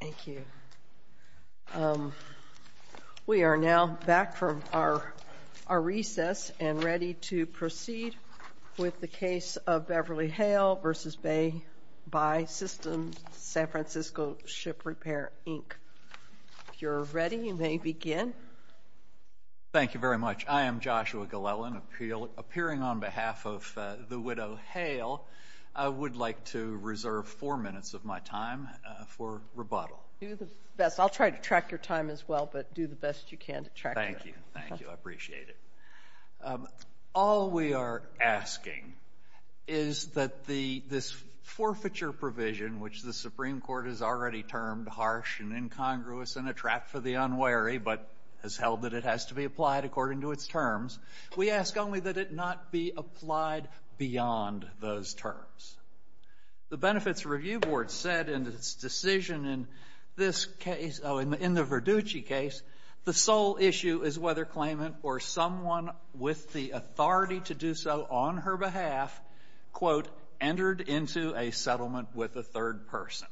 Thank you. We are now back from our recess and ready to proceed with the case of Beverly Hale v. BAE Sys. San Fran. Ship Repair, Inc. If you're ready, you may begin. Thank you very much. I am Joshua Glellen. Appearing on behalf of the widow Hale, I would like to reserve 4 minutes of my time for rebuttal. Do the best. I'll try to track your time as well, but do the best you can to track it. Thank you. Thank you. I appreciate it. All we are asking is that this forfeiture provision, which the Supreme Court has already termed harsh and incongruous and a trap for the unwary, but has held that it has to be The Benefits Review Board said in its decision in the Verducci case, the sole issue is whether claimant or someone with the authority to do so on her behalf, quote, entered into a settlement with a third person.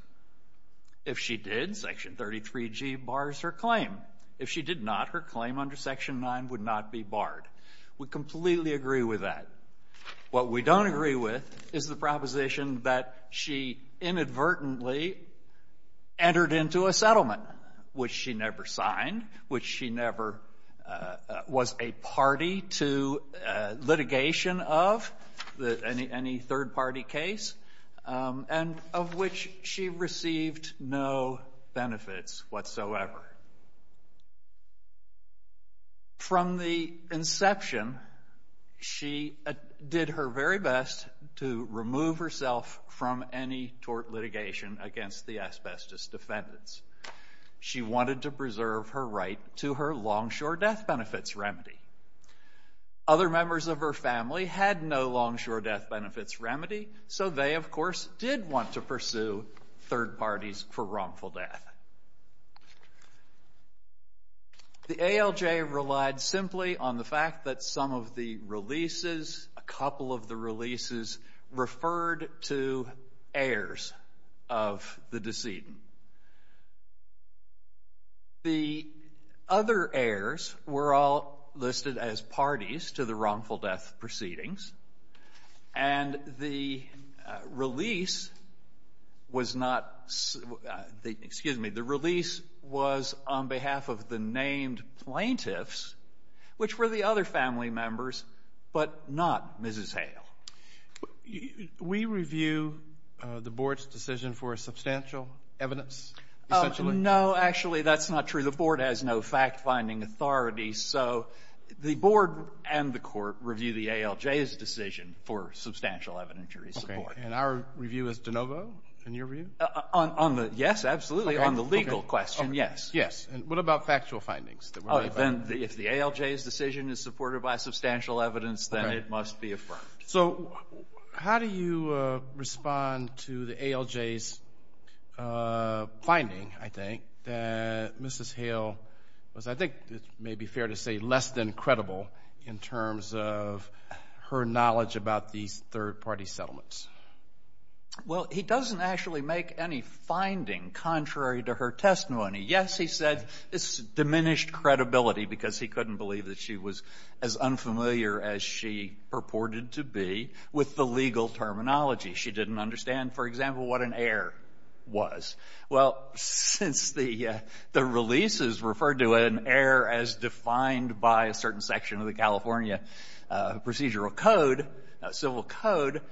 If she did, Section 33G bars her claim. If she did not, her claim under Section 9 would not be barred. We completely agree with that. What we don't agree with is the proposition that she inadvertently entered into a settlement, which she never signed, which she never was a party to litigation of, any third party case, and of which she to remove herself from any tort litigation against the asbestos defendants. She wanted to preserve her right to her longshore death benefits remedy. Other members of her family had no longshore death benefits remedy, so they, of course, did want to pursue third parties for wrongful death. The ALJ relied simply on the fact that some of the releases, a couple of the releases, referred to heirs of the decedent. The other heirs were all listed as parties to the wrongful death proceedings, and the release was not, excuse me, the release was on behalf of the named plaintiffs, which were the other family members, but not Mrs. Hale. We review the board's decision for substantial evidence? No, actually, that's not true. The board has no fact-finding authority, so the board and the court review the ALJ's decision for substantial evidentiary support. And our review is de novo, in your view? Yes, absolutely. On the legal question, yes. Yes, and what about factual findings? Oh, then if the ALJ's decision is supported by substantial evidence, then it must be affirmed. So how do you respond to the ALJ's finding, I think, that Mrs. Hale was, I think it may be fair to say, less than credible in terms of her knowledge about these third-party settlements? Well, he doesn't actually make any finding contrary to her testimony. Yes, he said it's diminished credibility, because he couldn't believe that she was as unfamiliar as she purported to be with the legal terminology. She didn't understand, for example, what an heir was. Well, since the release is referred to an heir as defined by a certain section of the statute,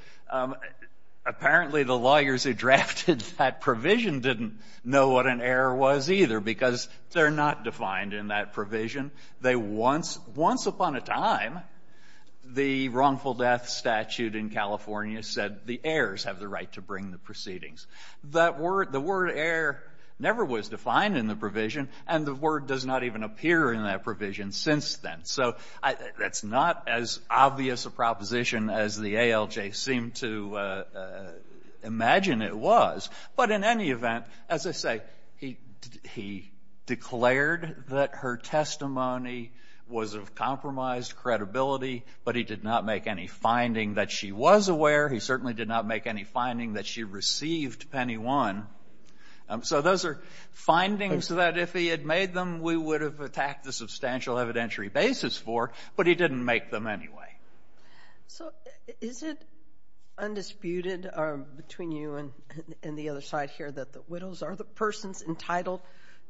apparently the lawyers who drafted that provision didn't know what an heir was either, because they're not defined in that provision. Once upon a time, the wrongful death statute in California said the heirs have the right to bring the proceedings. The word heir never was defined in the provision, and the word does not even appear in that provision since then. So that's not as obvious a proposition as the ALJ seemed to imagine it was. But in any event, as I say, he declared that her testimony was of compromised credibility, but he did not make any finding that she was aware. He certainly did not make any finding that she received penny one. So those are findings that if he had made them, we would have attacked the substantial evidentiary basis for, but he didn't make them anyway. So is it undisputed between you and the other side here that the widows are the persons entitled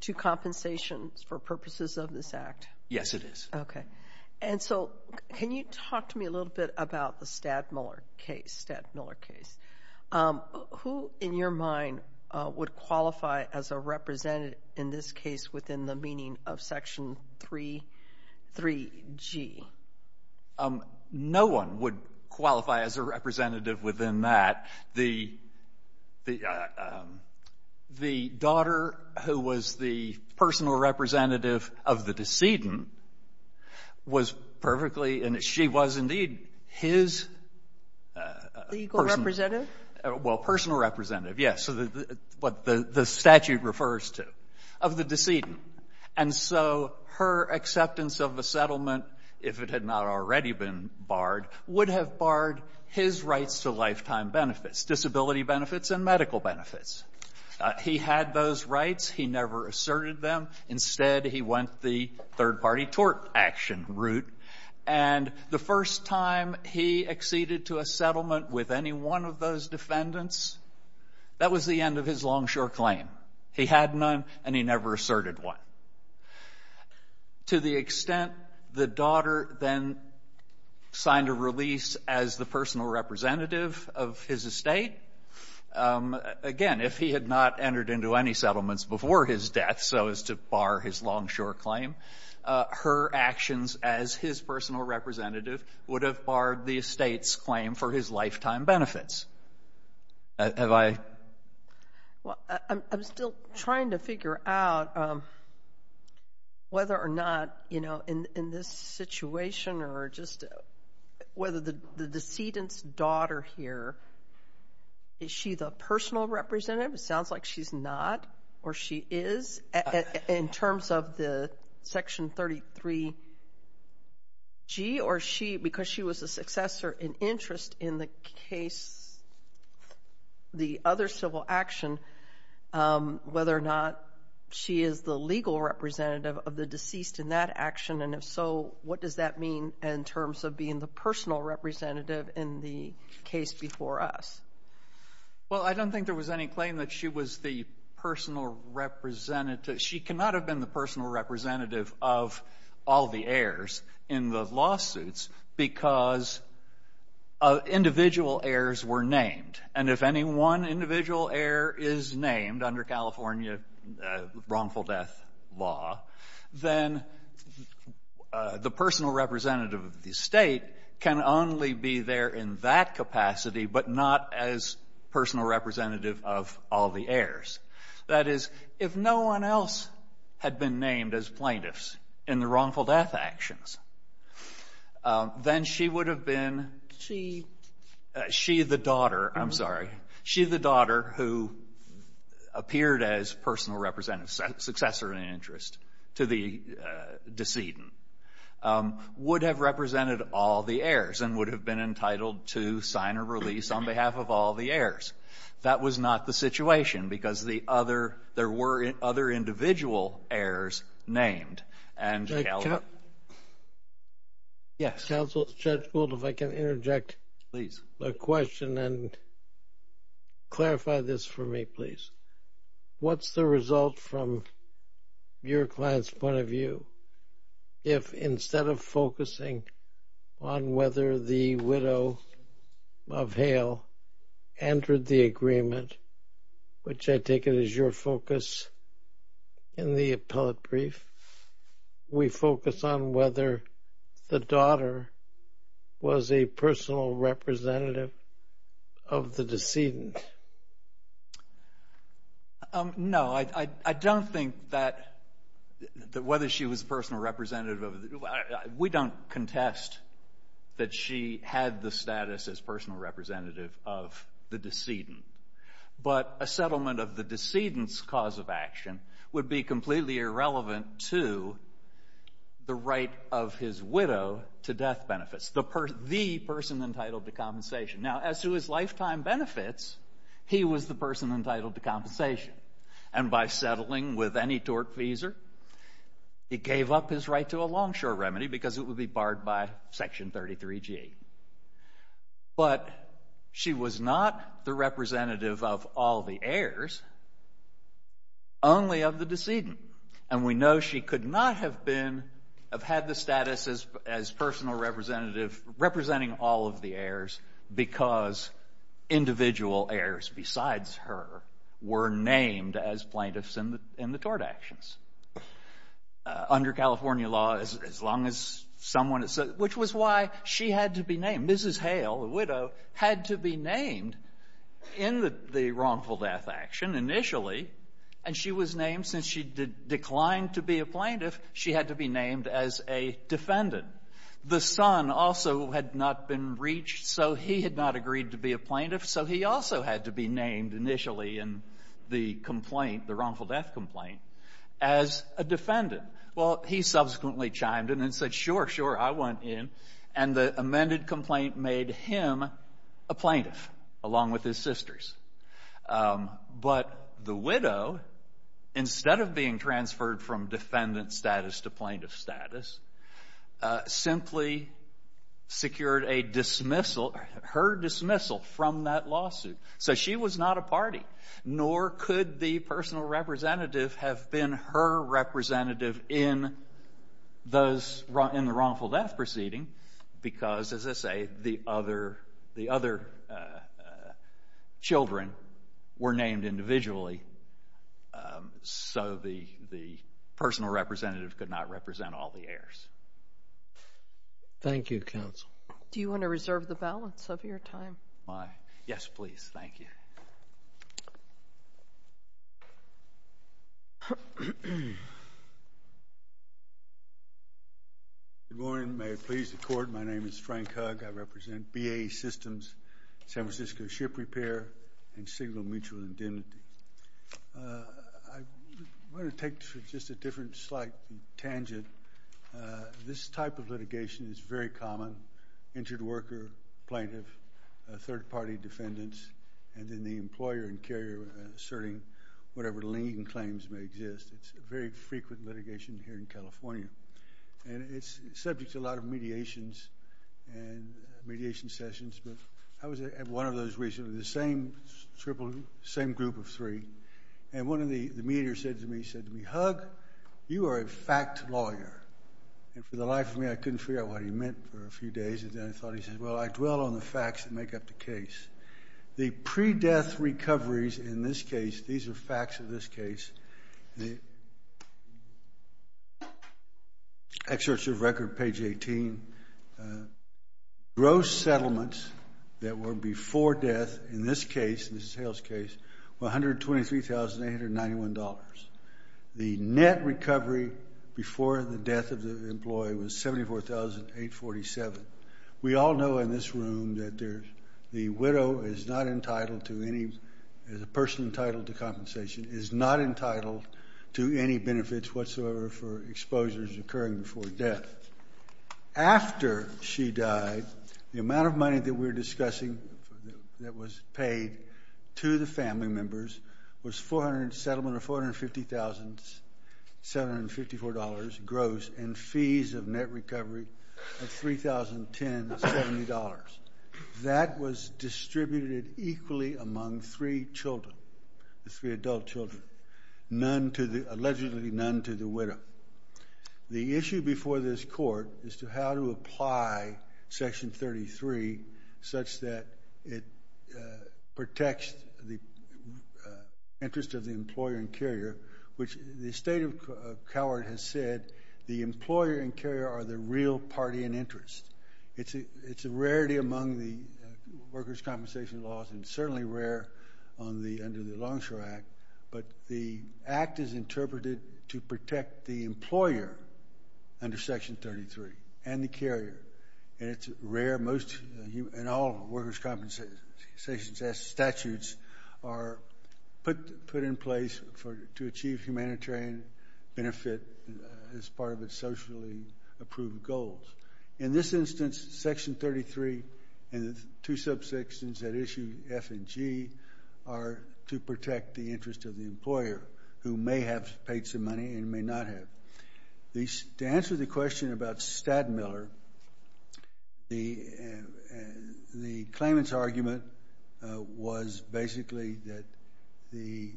to compensations for purposes of this Act? Yes, it is. Okay. And so can you talk to me a little bit about the Stadt-Muller case? Stadt-Muller case. Who, in your mind, would qualify as a representative in this case within the 3G? No one would qualify as a representative within that. The daughter who was the personal representative of the decedent was perfectly, and she was indeed his legal representative. Well, personal representative, yes, what the statute refers to, of the decedent. And so her acceptance of a settlement, if it had not already been barred, would have barred his rights to lifetime benefits, disability benefits and medical benefits. He had those rights. He never asserted them. Instead, he went the third-party tort action route. And the first time he acceded to a settlement with any one of those defendants, that was the end of his longshore claim. He had none, and he never asserted one. To the extent the daughter then signed a release as the personal representative of his estate, again, if he had not entered into any settlements before his death, so as to bar his longshore claim, her actions as his personal representative would have barred the estate's claim for his life. Well, I'm still trying to figure out whether or not, you know, in this situation, or just whether the decedent's daughter here, is she the personal representative? It sounds like she's not, or she is, in terms of the Section 33G, or she, because she was a successor in interest in the case, the other civil action, whether or not she is the legal representative of the deceased in that action, and if so, what does that mean in terms of being the personal representative in the case before us? Well, I don't think there was any claim that she was the personal representative. She cannot have been the personal representative of all the heirs in the lawsuits, because of individual heirs were named, and if any one individual heir is named under California wrongful death law, then the personal representative of the estate can only be there in that capacity, but not as personal representative of all the heirs. That is, if no one else had been named as plaintiffs in the wrongful death actions, then she would have been, she, she the daughter, I'm sorry, she the daughter who appeared as personal representative, successor in interest to the decedent, would have represented all the heirs, and would have been entitled to sign a release on behalf of all the heirs. That was not the situation, because the other, there were other individual heirs named, and yes, counsel, Judge Gould, if I can interject, please, a question and clarify this for me, please. What's the result from your client's point of view, if instead of focusing on whether the widow of Hale entered the agreement, which I take it is your focus in the appellate brief, we focus on whether the daughter was a personal representative of the decedent? No, I don't think that, that whether she was personal representative of, we don't contest that she had the status as personal representative of the decedent, but a settlement of the decedent's cause of action would be completely irrelevant to the right of his widow to death benefits, the person, the person entitled to compensation. Now, as to his lifetime benefits, he was the person entitled to compensation, and by settling with any tortfeasor, he gave up his right to a longshore remedy, because it would be barred by Section 33G. But she was not the representative of all the heirs, only of the decedent, and we know she could not have been, have had the status as personal representative, representing all of the heirs, because individual heirs besides her were named as plaintiffs in the, in the tort actions. Under California law, as long as someone, which was why she had to be named. Mrs. Hale, the widow, had to be named in the wrongful death action initially, and she was named, since she declined to be a plaintiff, she had to be named as a defendant. The son also had not been reached, so he had not agreed to be a plaintiff, so he also had to be named initially in the complaint, the wrongful death complaint, as a defendant. Well, he subsequently chimed in and said, sure, sure, I want in, and the amended complaint made him a plaintiff, along with his sisters. But the widow, instead of being transferred from defendant status to plaintiff status, simply secured a dismissal, her dismissal from that lawsuit. So she was not a party, nor could the personal representative have been her representative in those, in the wrongful death proceeding, because, as I say, the other, the other could not represent all the heirs. Thank you, counsel. Do you want to reserve the balance of your time? Why? Yes, please. Thank you. Good morning. May it please the court, my name is Frank Hugg. I represent BAE Systems, San Francisco Ship Repair, and Signal Mutual Indemnity. I want to take just a different slight tangent. This type of litigation is very common, injured worker, plaintiff, third-party defendants, and then the employer and carrier asserting whatever lien claims may exist. It's a very frequent litigation here in California, and it's subject to a lot of mediations and mediation sessions, but I was at one of those the same group of three, and one of the mediators said to me, he said to me, Hugg, you are a fact lawyer, and for the life of me, I couldn't figure out what he meant for a few days, and then I thought, he says, well, I dwell on the facts that make up the case. The pre-death recoveries in this case, these are facts of this case, the excerpts of record, page 18, gross settlements that were before death in this case, this is Hale's case, were $123,891. The net recovery before the death of the employee was $74,847. We all know in this room that the widow is not entitled to any, is a person entitled to any benefits whatsoever for exposures occurring before death. After she died, the amount of money that we're discussing that was paid to the family members was 400, settlement of $450,754 gross, and fees of net recovery of $3,010.70. That was distributed equally among three children, the three adult children, none to the, allegedly none to the widow. The issue before this court is to how to apply Section 33 such that it protects the interest of the employer and carrier, which the state of Calvert has said, the employer and carrier are the real party in interest. It's a rarity among the workers' compensation laws and certainly rare under the Longshore Act, but the act is interpreted to protect the employer under Section 33 and the carrier, and it's rare, most, and all workers' compensation statutes are put in place to achieve humanitarian benefit as part of its socially approved goals. In this instance, Section 33 and the two subsections that issue F and G are to protect the interest of the employer, who may have paid some money and may not have. To answer the question about Stadmiller, the claimant's argument was basically that the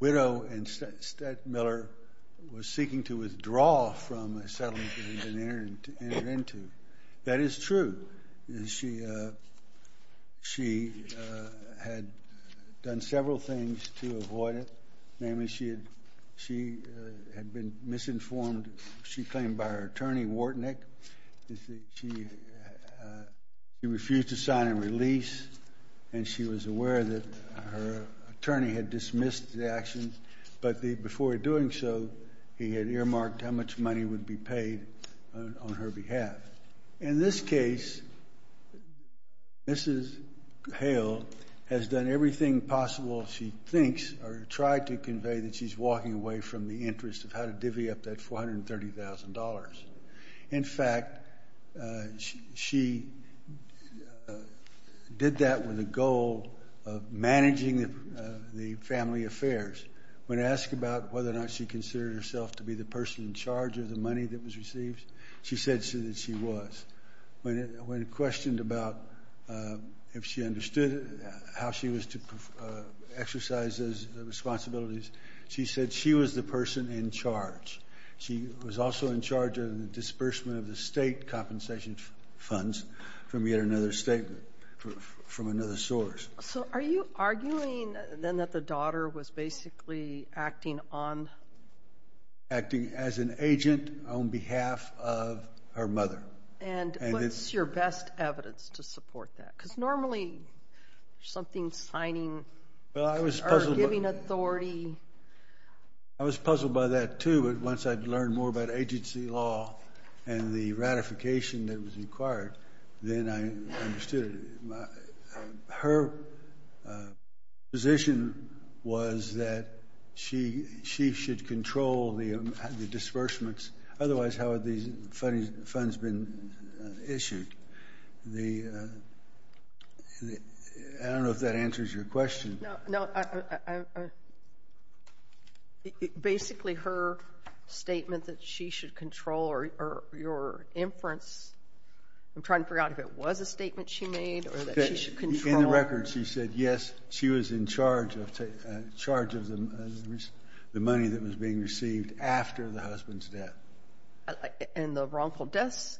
widow in Stadmiller was seeking to withdraw from a settlement that had been entered into. That is true. She had done several things to avoid it, namely she had been misinformed, she claimed, by her attorney, Wartnick. He refused to sign a release, and she was aware that her attorney had dismissed the action, but before doing so, he had earmarked how much money would be paid on her behalf. In this case, Mrs. Hale has done everything possible, she thinks, or tried to convey that she's walking away from the interest of how to divvy up that $430,000. In fact, she did that with a goal of managing the family affairs. When asked about whether or not she considered herself to be the person in charge of the money that was received, she said that she was. When asked about whether or not she understood how she was to exercise those responsibilities, she said she was the person in charge. She was also in charge of the disbursement of the state compensation funds from yet another statement, from another source. So are you arguing then that the daughter was basically acting on... Acting as an agent on behalf of her mother. And what's your best evidence to support that? Because normally, something signing... Well, I was puzzled by that too, but once I'd learned more about agency law and the ratification that was required, then I understood. Her position was that she should control the disbursements. Otherwise, how had these funds been issued? I don't know if that answers your question. No. Basically, her statement that she should control or your inference... I'm trying to figure out if it was a statement she made or that she should control... In the record, she said, yes, she was in charge of the money that was being received after the husband's death. And the wrongful death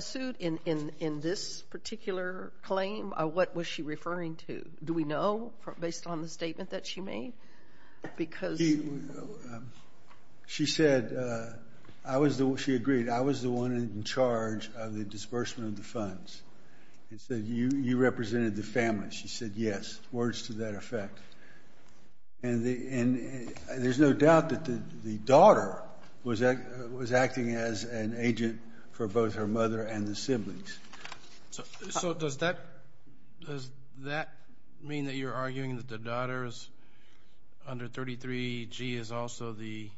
suit in this particular claim, what was she referring to? Do we know based on the statement that she made? Because... She said, she agreed, I was the one in charge of the disbursement of the funds. And said, you represented the family. She said, yes. Words to that effect. And there's no doubt that the daughter was acting as an agent for both her daughters. Under 33G is also the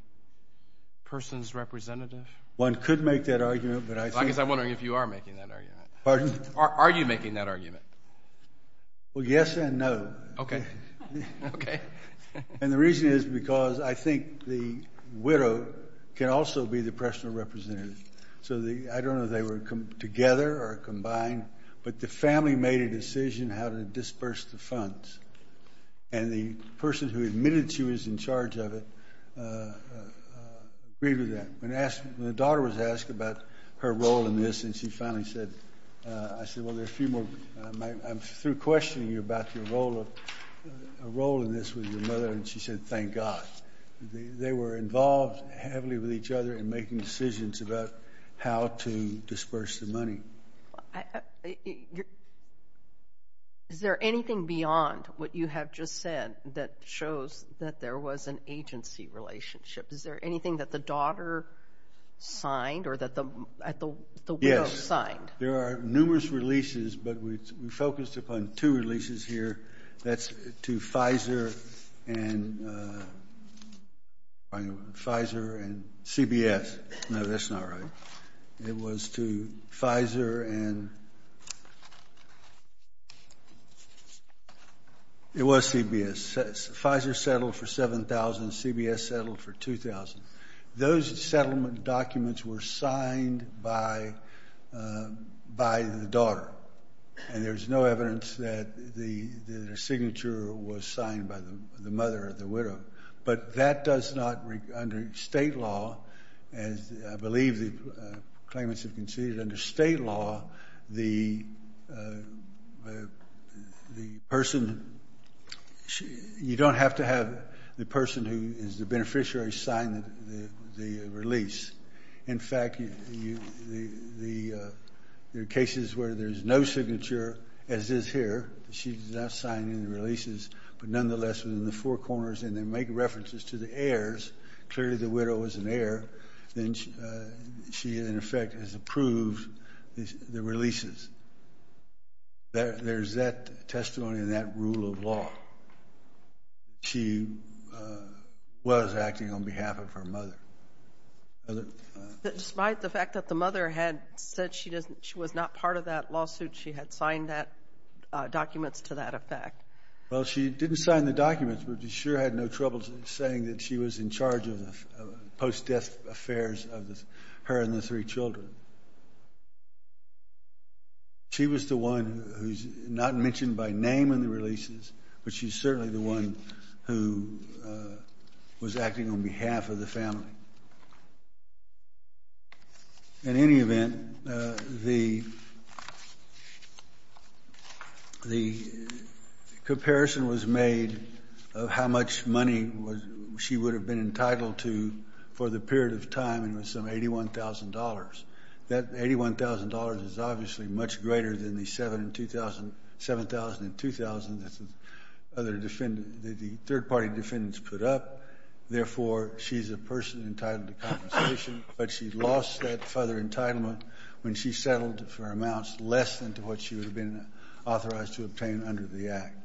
person's representative. One could make that argument, but I think... I guess I'm wondering if you are making that argument. Pardon? Are you making that argument? Well, yes and no. Okay. Okay. And the reason is because I think the widow can also be the personal representative. So I don't know if they were together or combined, but the family made a decision how to disperse the funds. And the person who admitted she was in charge of it agreed with that. When the daughter was asked about her role in this, and she finally said... I said, well, there are a few more... I'm through questioning you about a role in this with your mother. And she said, thank God. They were involved heavily with each other in making decisions about how to disperse the money. Is there anything beyond what you have just said that shows that there was an agency relationship? Is there anything that the daughter signed or that the widow signed? Yes. There are numerous releases, but we focused upon two releases here. That's to Pfizer and... Pfizer and CBS. No, that's not right. It was to Pfizer and... It was CBS. Pfizer settled for 7,000. CBS settled for 2,000. Those settlement documents were signed by the daughter. And there's no evidence that the signature was signed by the mother or the widow. But that does not... Under state law, as I believe the claimants have conceded under state law, the person... You don't have to have the person who is the beneficiary sign the release. In fact, there are cases where there's no signature, as is here. She does not sign any releases. But nonetheless, within the four corners, and they make references to the heirs. Clearly, the widow is an heir. Then she, in effect, has approved the releases. There's that mother. Despite the fact that the mother had said she was not part of that lawsuit, she had signed that documents to that effect? Well, she didn't sign the documents, but she sure had no trouble saying that she was in charge of the post-death affairs of her and the three children. She was the one who's not mentioned by name in the releases, but she's certainly the one who was acting on behalf of the family. In any event, the comparison was made of how much money she would have been entitled to for the period of time, and it was some $81,000. That $81,000 is obviously much greater than the $7,000 and $2,000 other defendants, the third party defendants put up. Therefore, she's a person entitled to compensation, but she lost that further entitlement when she settled for amounts less than to what she would have been authorized to obtain under the act.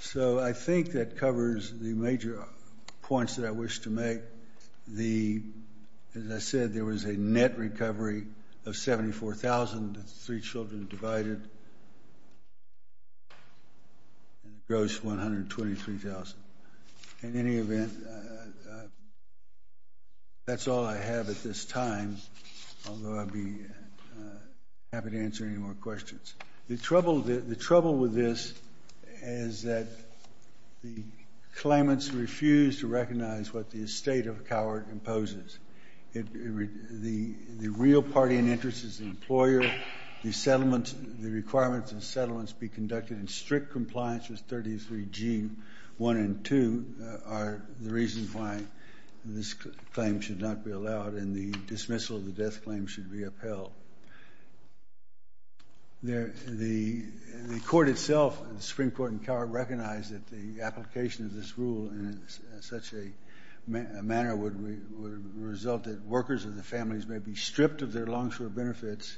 So I think that covers the major points that I wish to make. As I said, there was a net recovery of $74,000, the three children divided, and gross $123,000. In any event, that's all I have at this time, although I'd be happy to answer any more questions. The trouble with this is that the claimants refuse to recognize what the estate of a coward imposes. The real party in interest is the employer. The requirements of settlements be conducted in strict compliance with 33G1 and 2 are the reasons why this claim should not be allowed, and the dismissal of the death claim should be upheld. The Supreme Court and coward recognize that the application of this rule in such a manner would result that workers of the families may be stripped of their long-short benefits,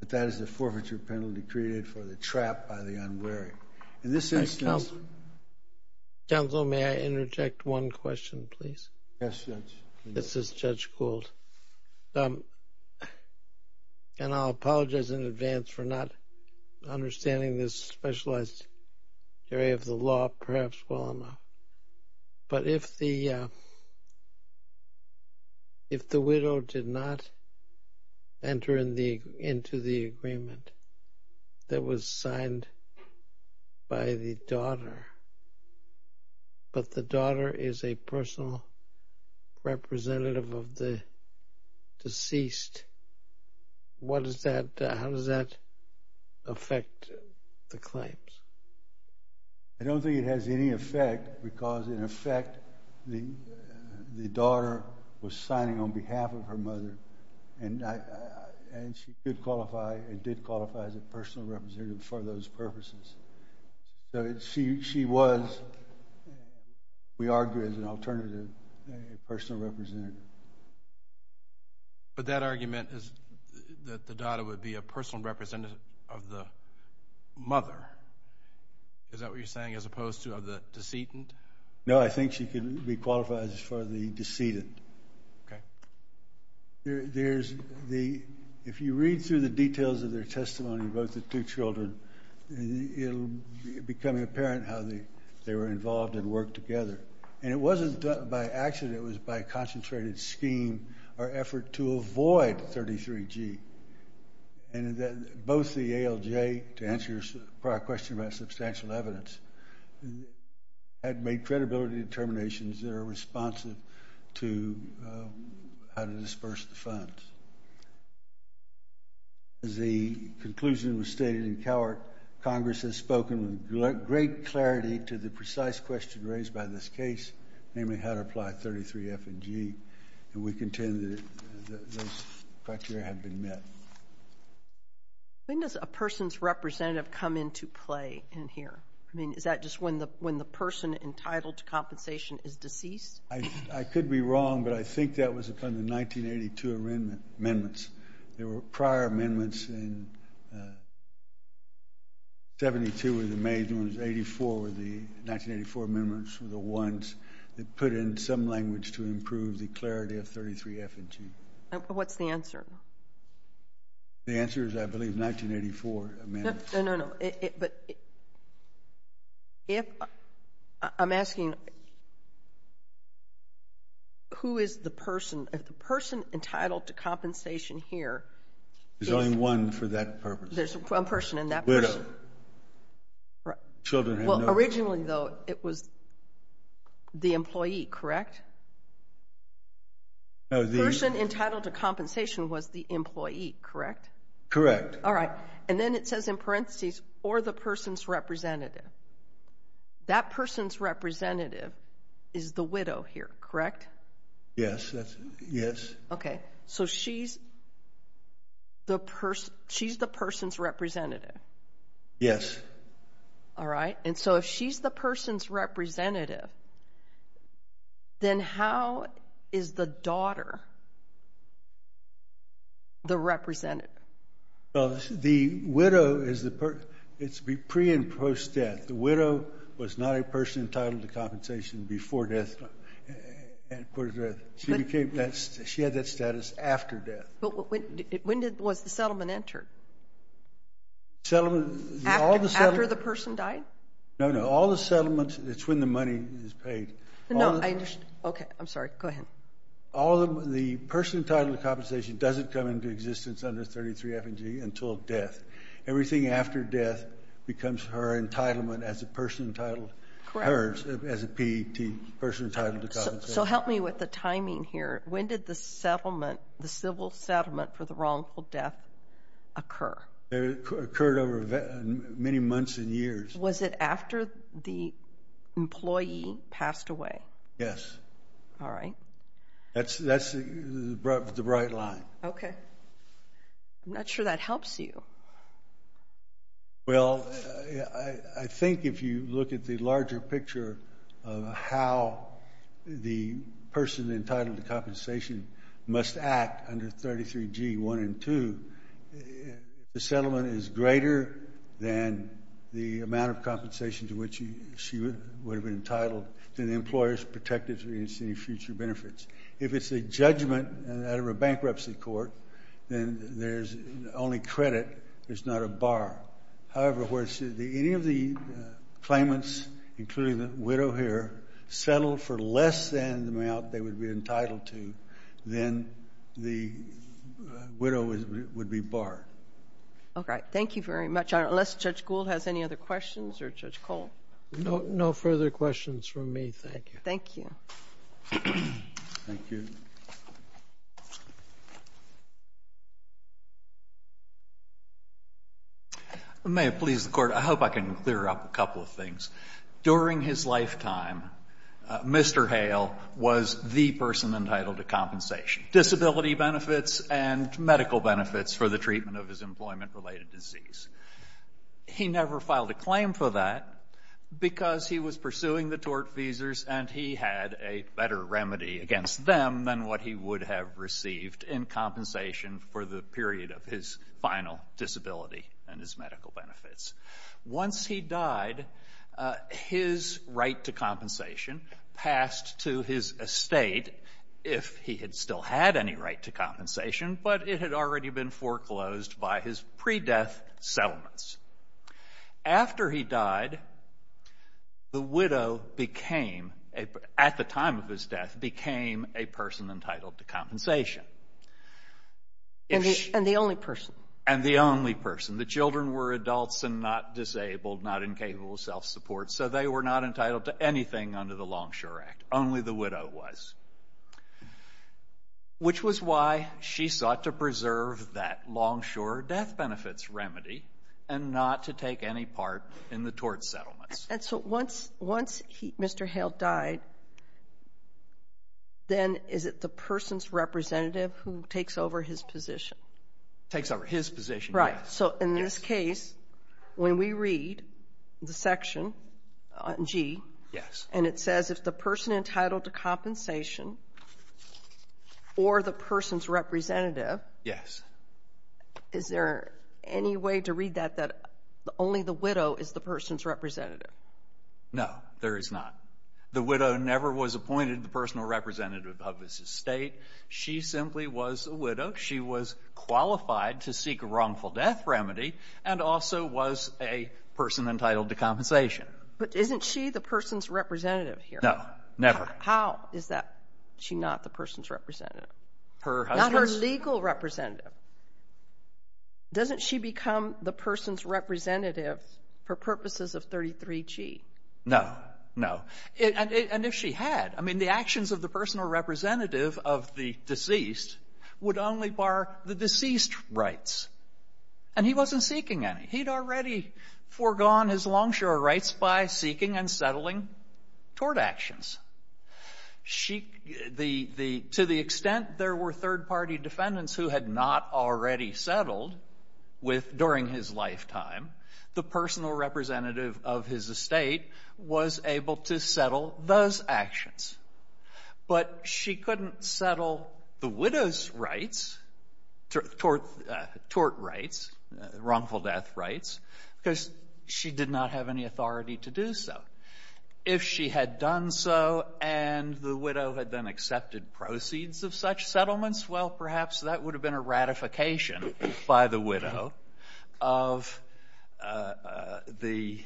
but that is the forfeiture penalty created for the trap by the unwary. In this instance... Thank you, Counsel. Counsel, may I interject one question, please? Yes, Judge. This is Judge Gould. And I'll apologize in advance for not specializing in the area of the law perhaps well enough. But if the widow did not enter into the agreement that was signed by the daughter, but the daughter is a personal representative for those purposes, she was, we argue, an alternative personal representative. But that argument is that the daughter would be a personal representative of the mother. Is that what you're saying as opposed to the decedent? No, I think she could be qualified as far as the decedent. Okay. If you read through the details of their testimony, both the two children, it'll become apparent how they were involved and worked together. And it wasn't done by accident. It was by concentrated scheme or effort to avoid 33G. And both the ALJ, to answer your prior question about substantial evidence, had made credibility determinations that are responsive to how to disperse the funds. As the conclusion was stated in Cowart, Congress has spoken with great clarity to the precise question raised by this case, namely how to apply 33F and G. And we contend that those criteria have been met. When does a person's representative come into play in here? I mean, is that just when the person entitled to compensation is deceased? I could be wrong, but I think that was upon the 1982 amendments. There were prior amendments in 72 were the major ones, 84 were the 1984 amendments were the ones that put in some answer. The answer is, I believe, 1984 amendments. No, no, no, but if I'm asking who is the person, if the person entitled to compensation here. There's only one for that purpose. There's one person in that person. Children. Well, originally, though, it was the employee, correct? No, the person entitled to compensation was the employee, correct? Correct. All right. And then it says in parentheses, or the person's representative. That person's representative is the widow here, correct? Yes. Yes. Okay. So she's the person. She's the person's representative. Yes. All right. And so if she's the person's representative, then how is the daughter the representative? Well, the widow is the person. It's pre and post death. The widow was not a person entitled to compensation before death. She had that status after death. But when was the settlement entered? After the person died? No, no, all the settlements, it's when the money is paid. No, I understand. Okay. I'm sorry. Go ahead. The person entitled to compensation doesn't come into existence under 33 F and G until death. Everything after death becomes her entitlement as a person entitled hers, as a P.E.T., person entitled to compensation. Help me with the timing here. When did the settlement, the civil settlement for the wrongful death occur? It occurred over many months and years. Was it after the employee passed away? Yes. All right. That's the bright line. Okay. I'm not sure that helps you. Well, I think if you look at the larger picture of how the person entitled to compensation must act under 33 G, 1 and 2, the settlement is greater than the amount of compensation to which she would have been entitled to the employer's protective of any future benefits. If it's a judgment out there, it's not a bar. However, any of the claimants, including the widow here, settled for less than the amount they would be entitled to, then the widow would be barred. Okay. Thank you very much. Unless Judge Gould has any other questions or Judge Cole? No further questions from me. Thank you. Thank you. May it please the Court, I hope I can clear up a couple of things. During his lifetime, Mr. Hale was the person entitled to compensation, disability benefits and medical benefits for the treatment of his employment-related disease. He never filed a claim for that because he was pursuing the tort visas and he had a better remedy against them than what he would have received in compensation for the period of his final disability and his medical benefits. Once he died, his right to compensation passed to his estate if he had still had any right to compensation, but it had already been foreclosed by his pre-death settlements. After he died, the widow, at the time of his death, became a person entitled to compensation. And the only person? And the only person. The children were adults and not disabled, not incapable of self-support, so they were not entitled to anything under the Longshore Act. Only the widow was, which was why she sought to preserve that Longshore death benefits remedy and not to take any part in the tort settlements. And so once Mr. Hale died, then is it the person's representative who takes over his position? Takes over his position, yes. Right. So in this case, when we read the section, G. Yes. And it says if the person entitled to compensation or the person's representative. Yes. Is there any way to read that, that only the widow is the person's representative? No, there is not. The widow never was appointed the personal representative of his estate. She simply was a widow. She was qualified to seek a wrongful death remedy and also was a person entitled to compensation. But isn't she the person's representative here? No, never. How is that she not the person's representative? Not her legal representative. Doesn't she become the person's representative for purposes of 33G? No, no. And if she had, I mean, the actions of the personal representative of the deceased would only bar the deceased rights. And he wasn't seeking any. He'd already foregone his longshore rights by seeking and settling tort actions. To the extent there were third-party defendants who had not already settled during his lifetime, the personal representative of his estate was able to settle those actions. But she couldn't settle the widow's rights, tort rights, wrongful death rights, because she did not have any authority to do so. If she had done so and the widow had then accepted proceeds of such settlements, well, perhaps that would have been a ratification by the widow of the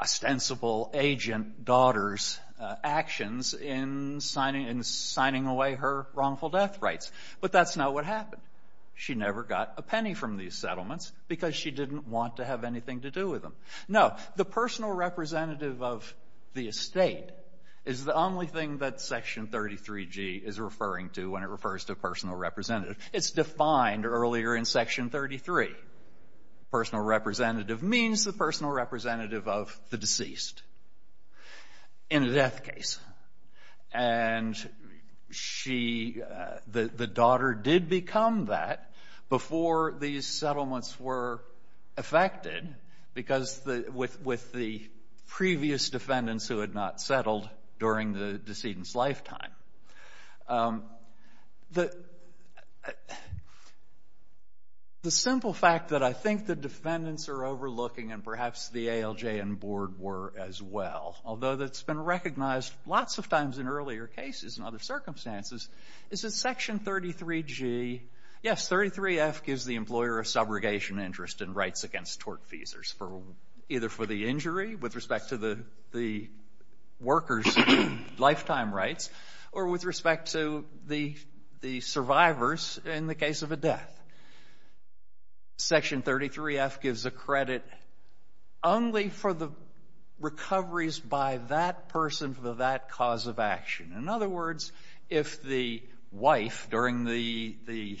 ostensible agent daughter's actions in signing away her wrongful death rights. But that's not what happened. She never got a penny from these settlements because she didn't want to have anything to do with them. No, the personal representative of the estate is the only thing that Section 33G is referring to when it refers to a personal representative. It's defined earlier in Section 33. The personal representative means the personal representative of the deceased in a death case. And the daughter did become that before these settlements were affected, because with the previous defendants who had not settled during the decedent's lifetime. The simple fact that I think the defendants are overlooking, and perhaps the ALJ and board were as well, although that's been recognized lots of times in earlier cases and other circumstances, is that Section 33G, yes, 33F gives the employer a subrogation interest in rights against tort for either for the injury with respect to the workers' lifetime rights, or with respect to the survivors in the case of a death. Section 33F gives a credit only for the recoveries by that person for that cause of action. In other words, if the wife during the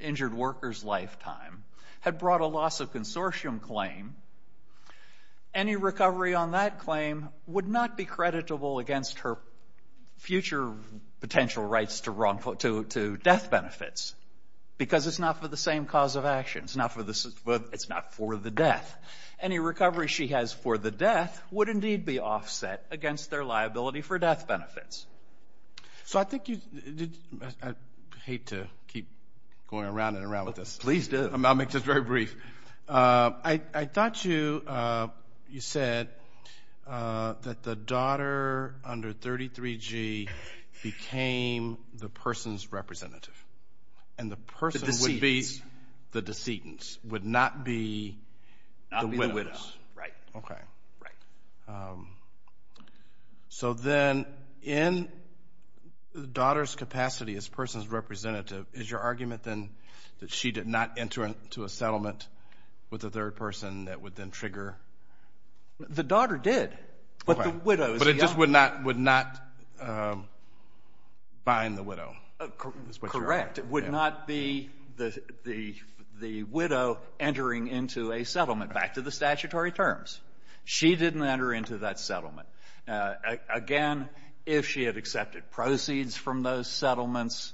injured worker's lifetime had brought a loss of consortium claim, any recovery on that claim would not be creditable against her future potential rights to death benefits, because it's not for the same cause of action. It's not for the death. Any recovery she has for the death would indeed be offset against their liability for death benefits. So I think you... I hate to keep going around and around with this. I'll make this very brief. I thought you said that the daughter under 33G became the person's representative, and the person would be the decedents, would not be the widows. Right. Okay. Right. So then in the daughter's capacity as person's representative, is your argument then that she did not enter into a settlement with the third person that would then trigger... The daughter did, but the widow... But it just would not bind the widow. Correct. It would not be the widow entering into a settlement, back to the statutory terms. She didn't enter into that settlement. Again, if she had accepted proceeds from those settlements,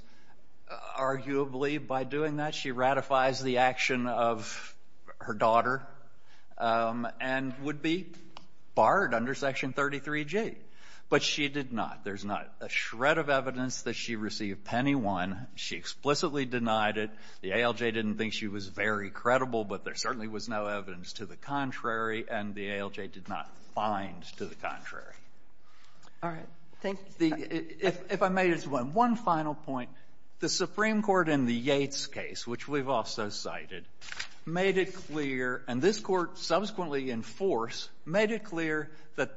arguably by doing that, she ratifies the action of her daughter and would be barred under Section 33G. But she did not. There's not a shred of evidence that she received penny one. She explicitly denied it. The ALJ didn't think she was very credible, but there certainly was no evidence to the contrary, and the ALJ did not find to the contrary. All right. Thank you. If I may, just one final point. The Supreme Court in the Yates case, which we've also cited, made it clear, and this court subsequently in force, made it clear that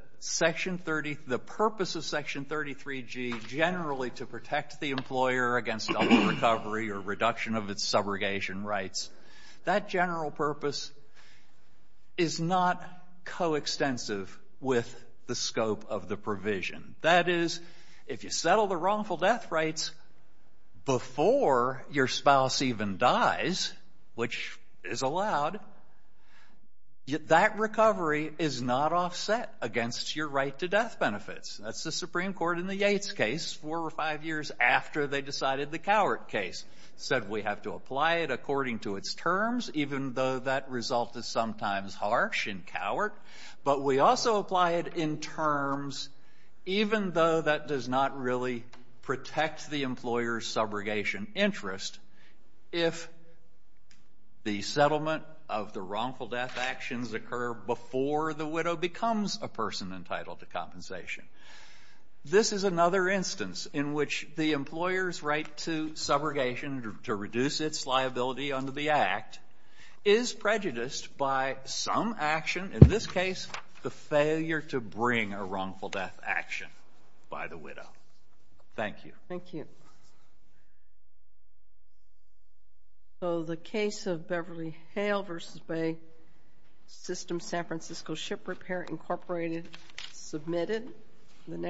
the purpose of Section 33G, generally to protect the employer against recovery or reduction of its subrogation rights, that general purpose is not coextensive with the scope of the provision. That is, if you settle the wrongful death rights before your spouse even dies, which is allowed, that recovery is not offset against your right to death benefits. That's the Supreme Court in the Yates case, four or five years after they decided the Cowart case, said we have to apply it according to its terms, even though that result is sometimes harsh in Cowart, but we also apply it in terms, even though that does not really protect the employer's subrogation interest, if the settlement of the wrongful death actions occur before the widow becomes a person entitled to compensation. This is another instance in which the employer's right to subrogation to reduce its liability under the Act is prejudiced by some action, in this case, the failure to bring a wrongful death action by the widow. Thank you. Thank you. So the case of Beverly Hale v. Bay, System San Francisco Ship Repair, Incorporated, submitted.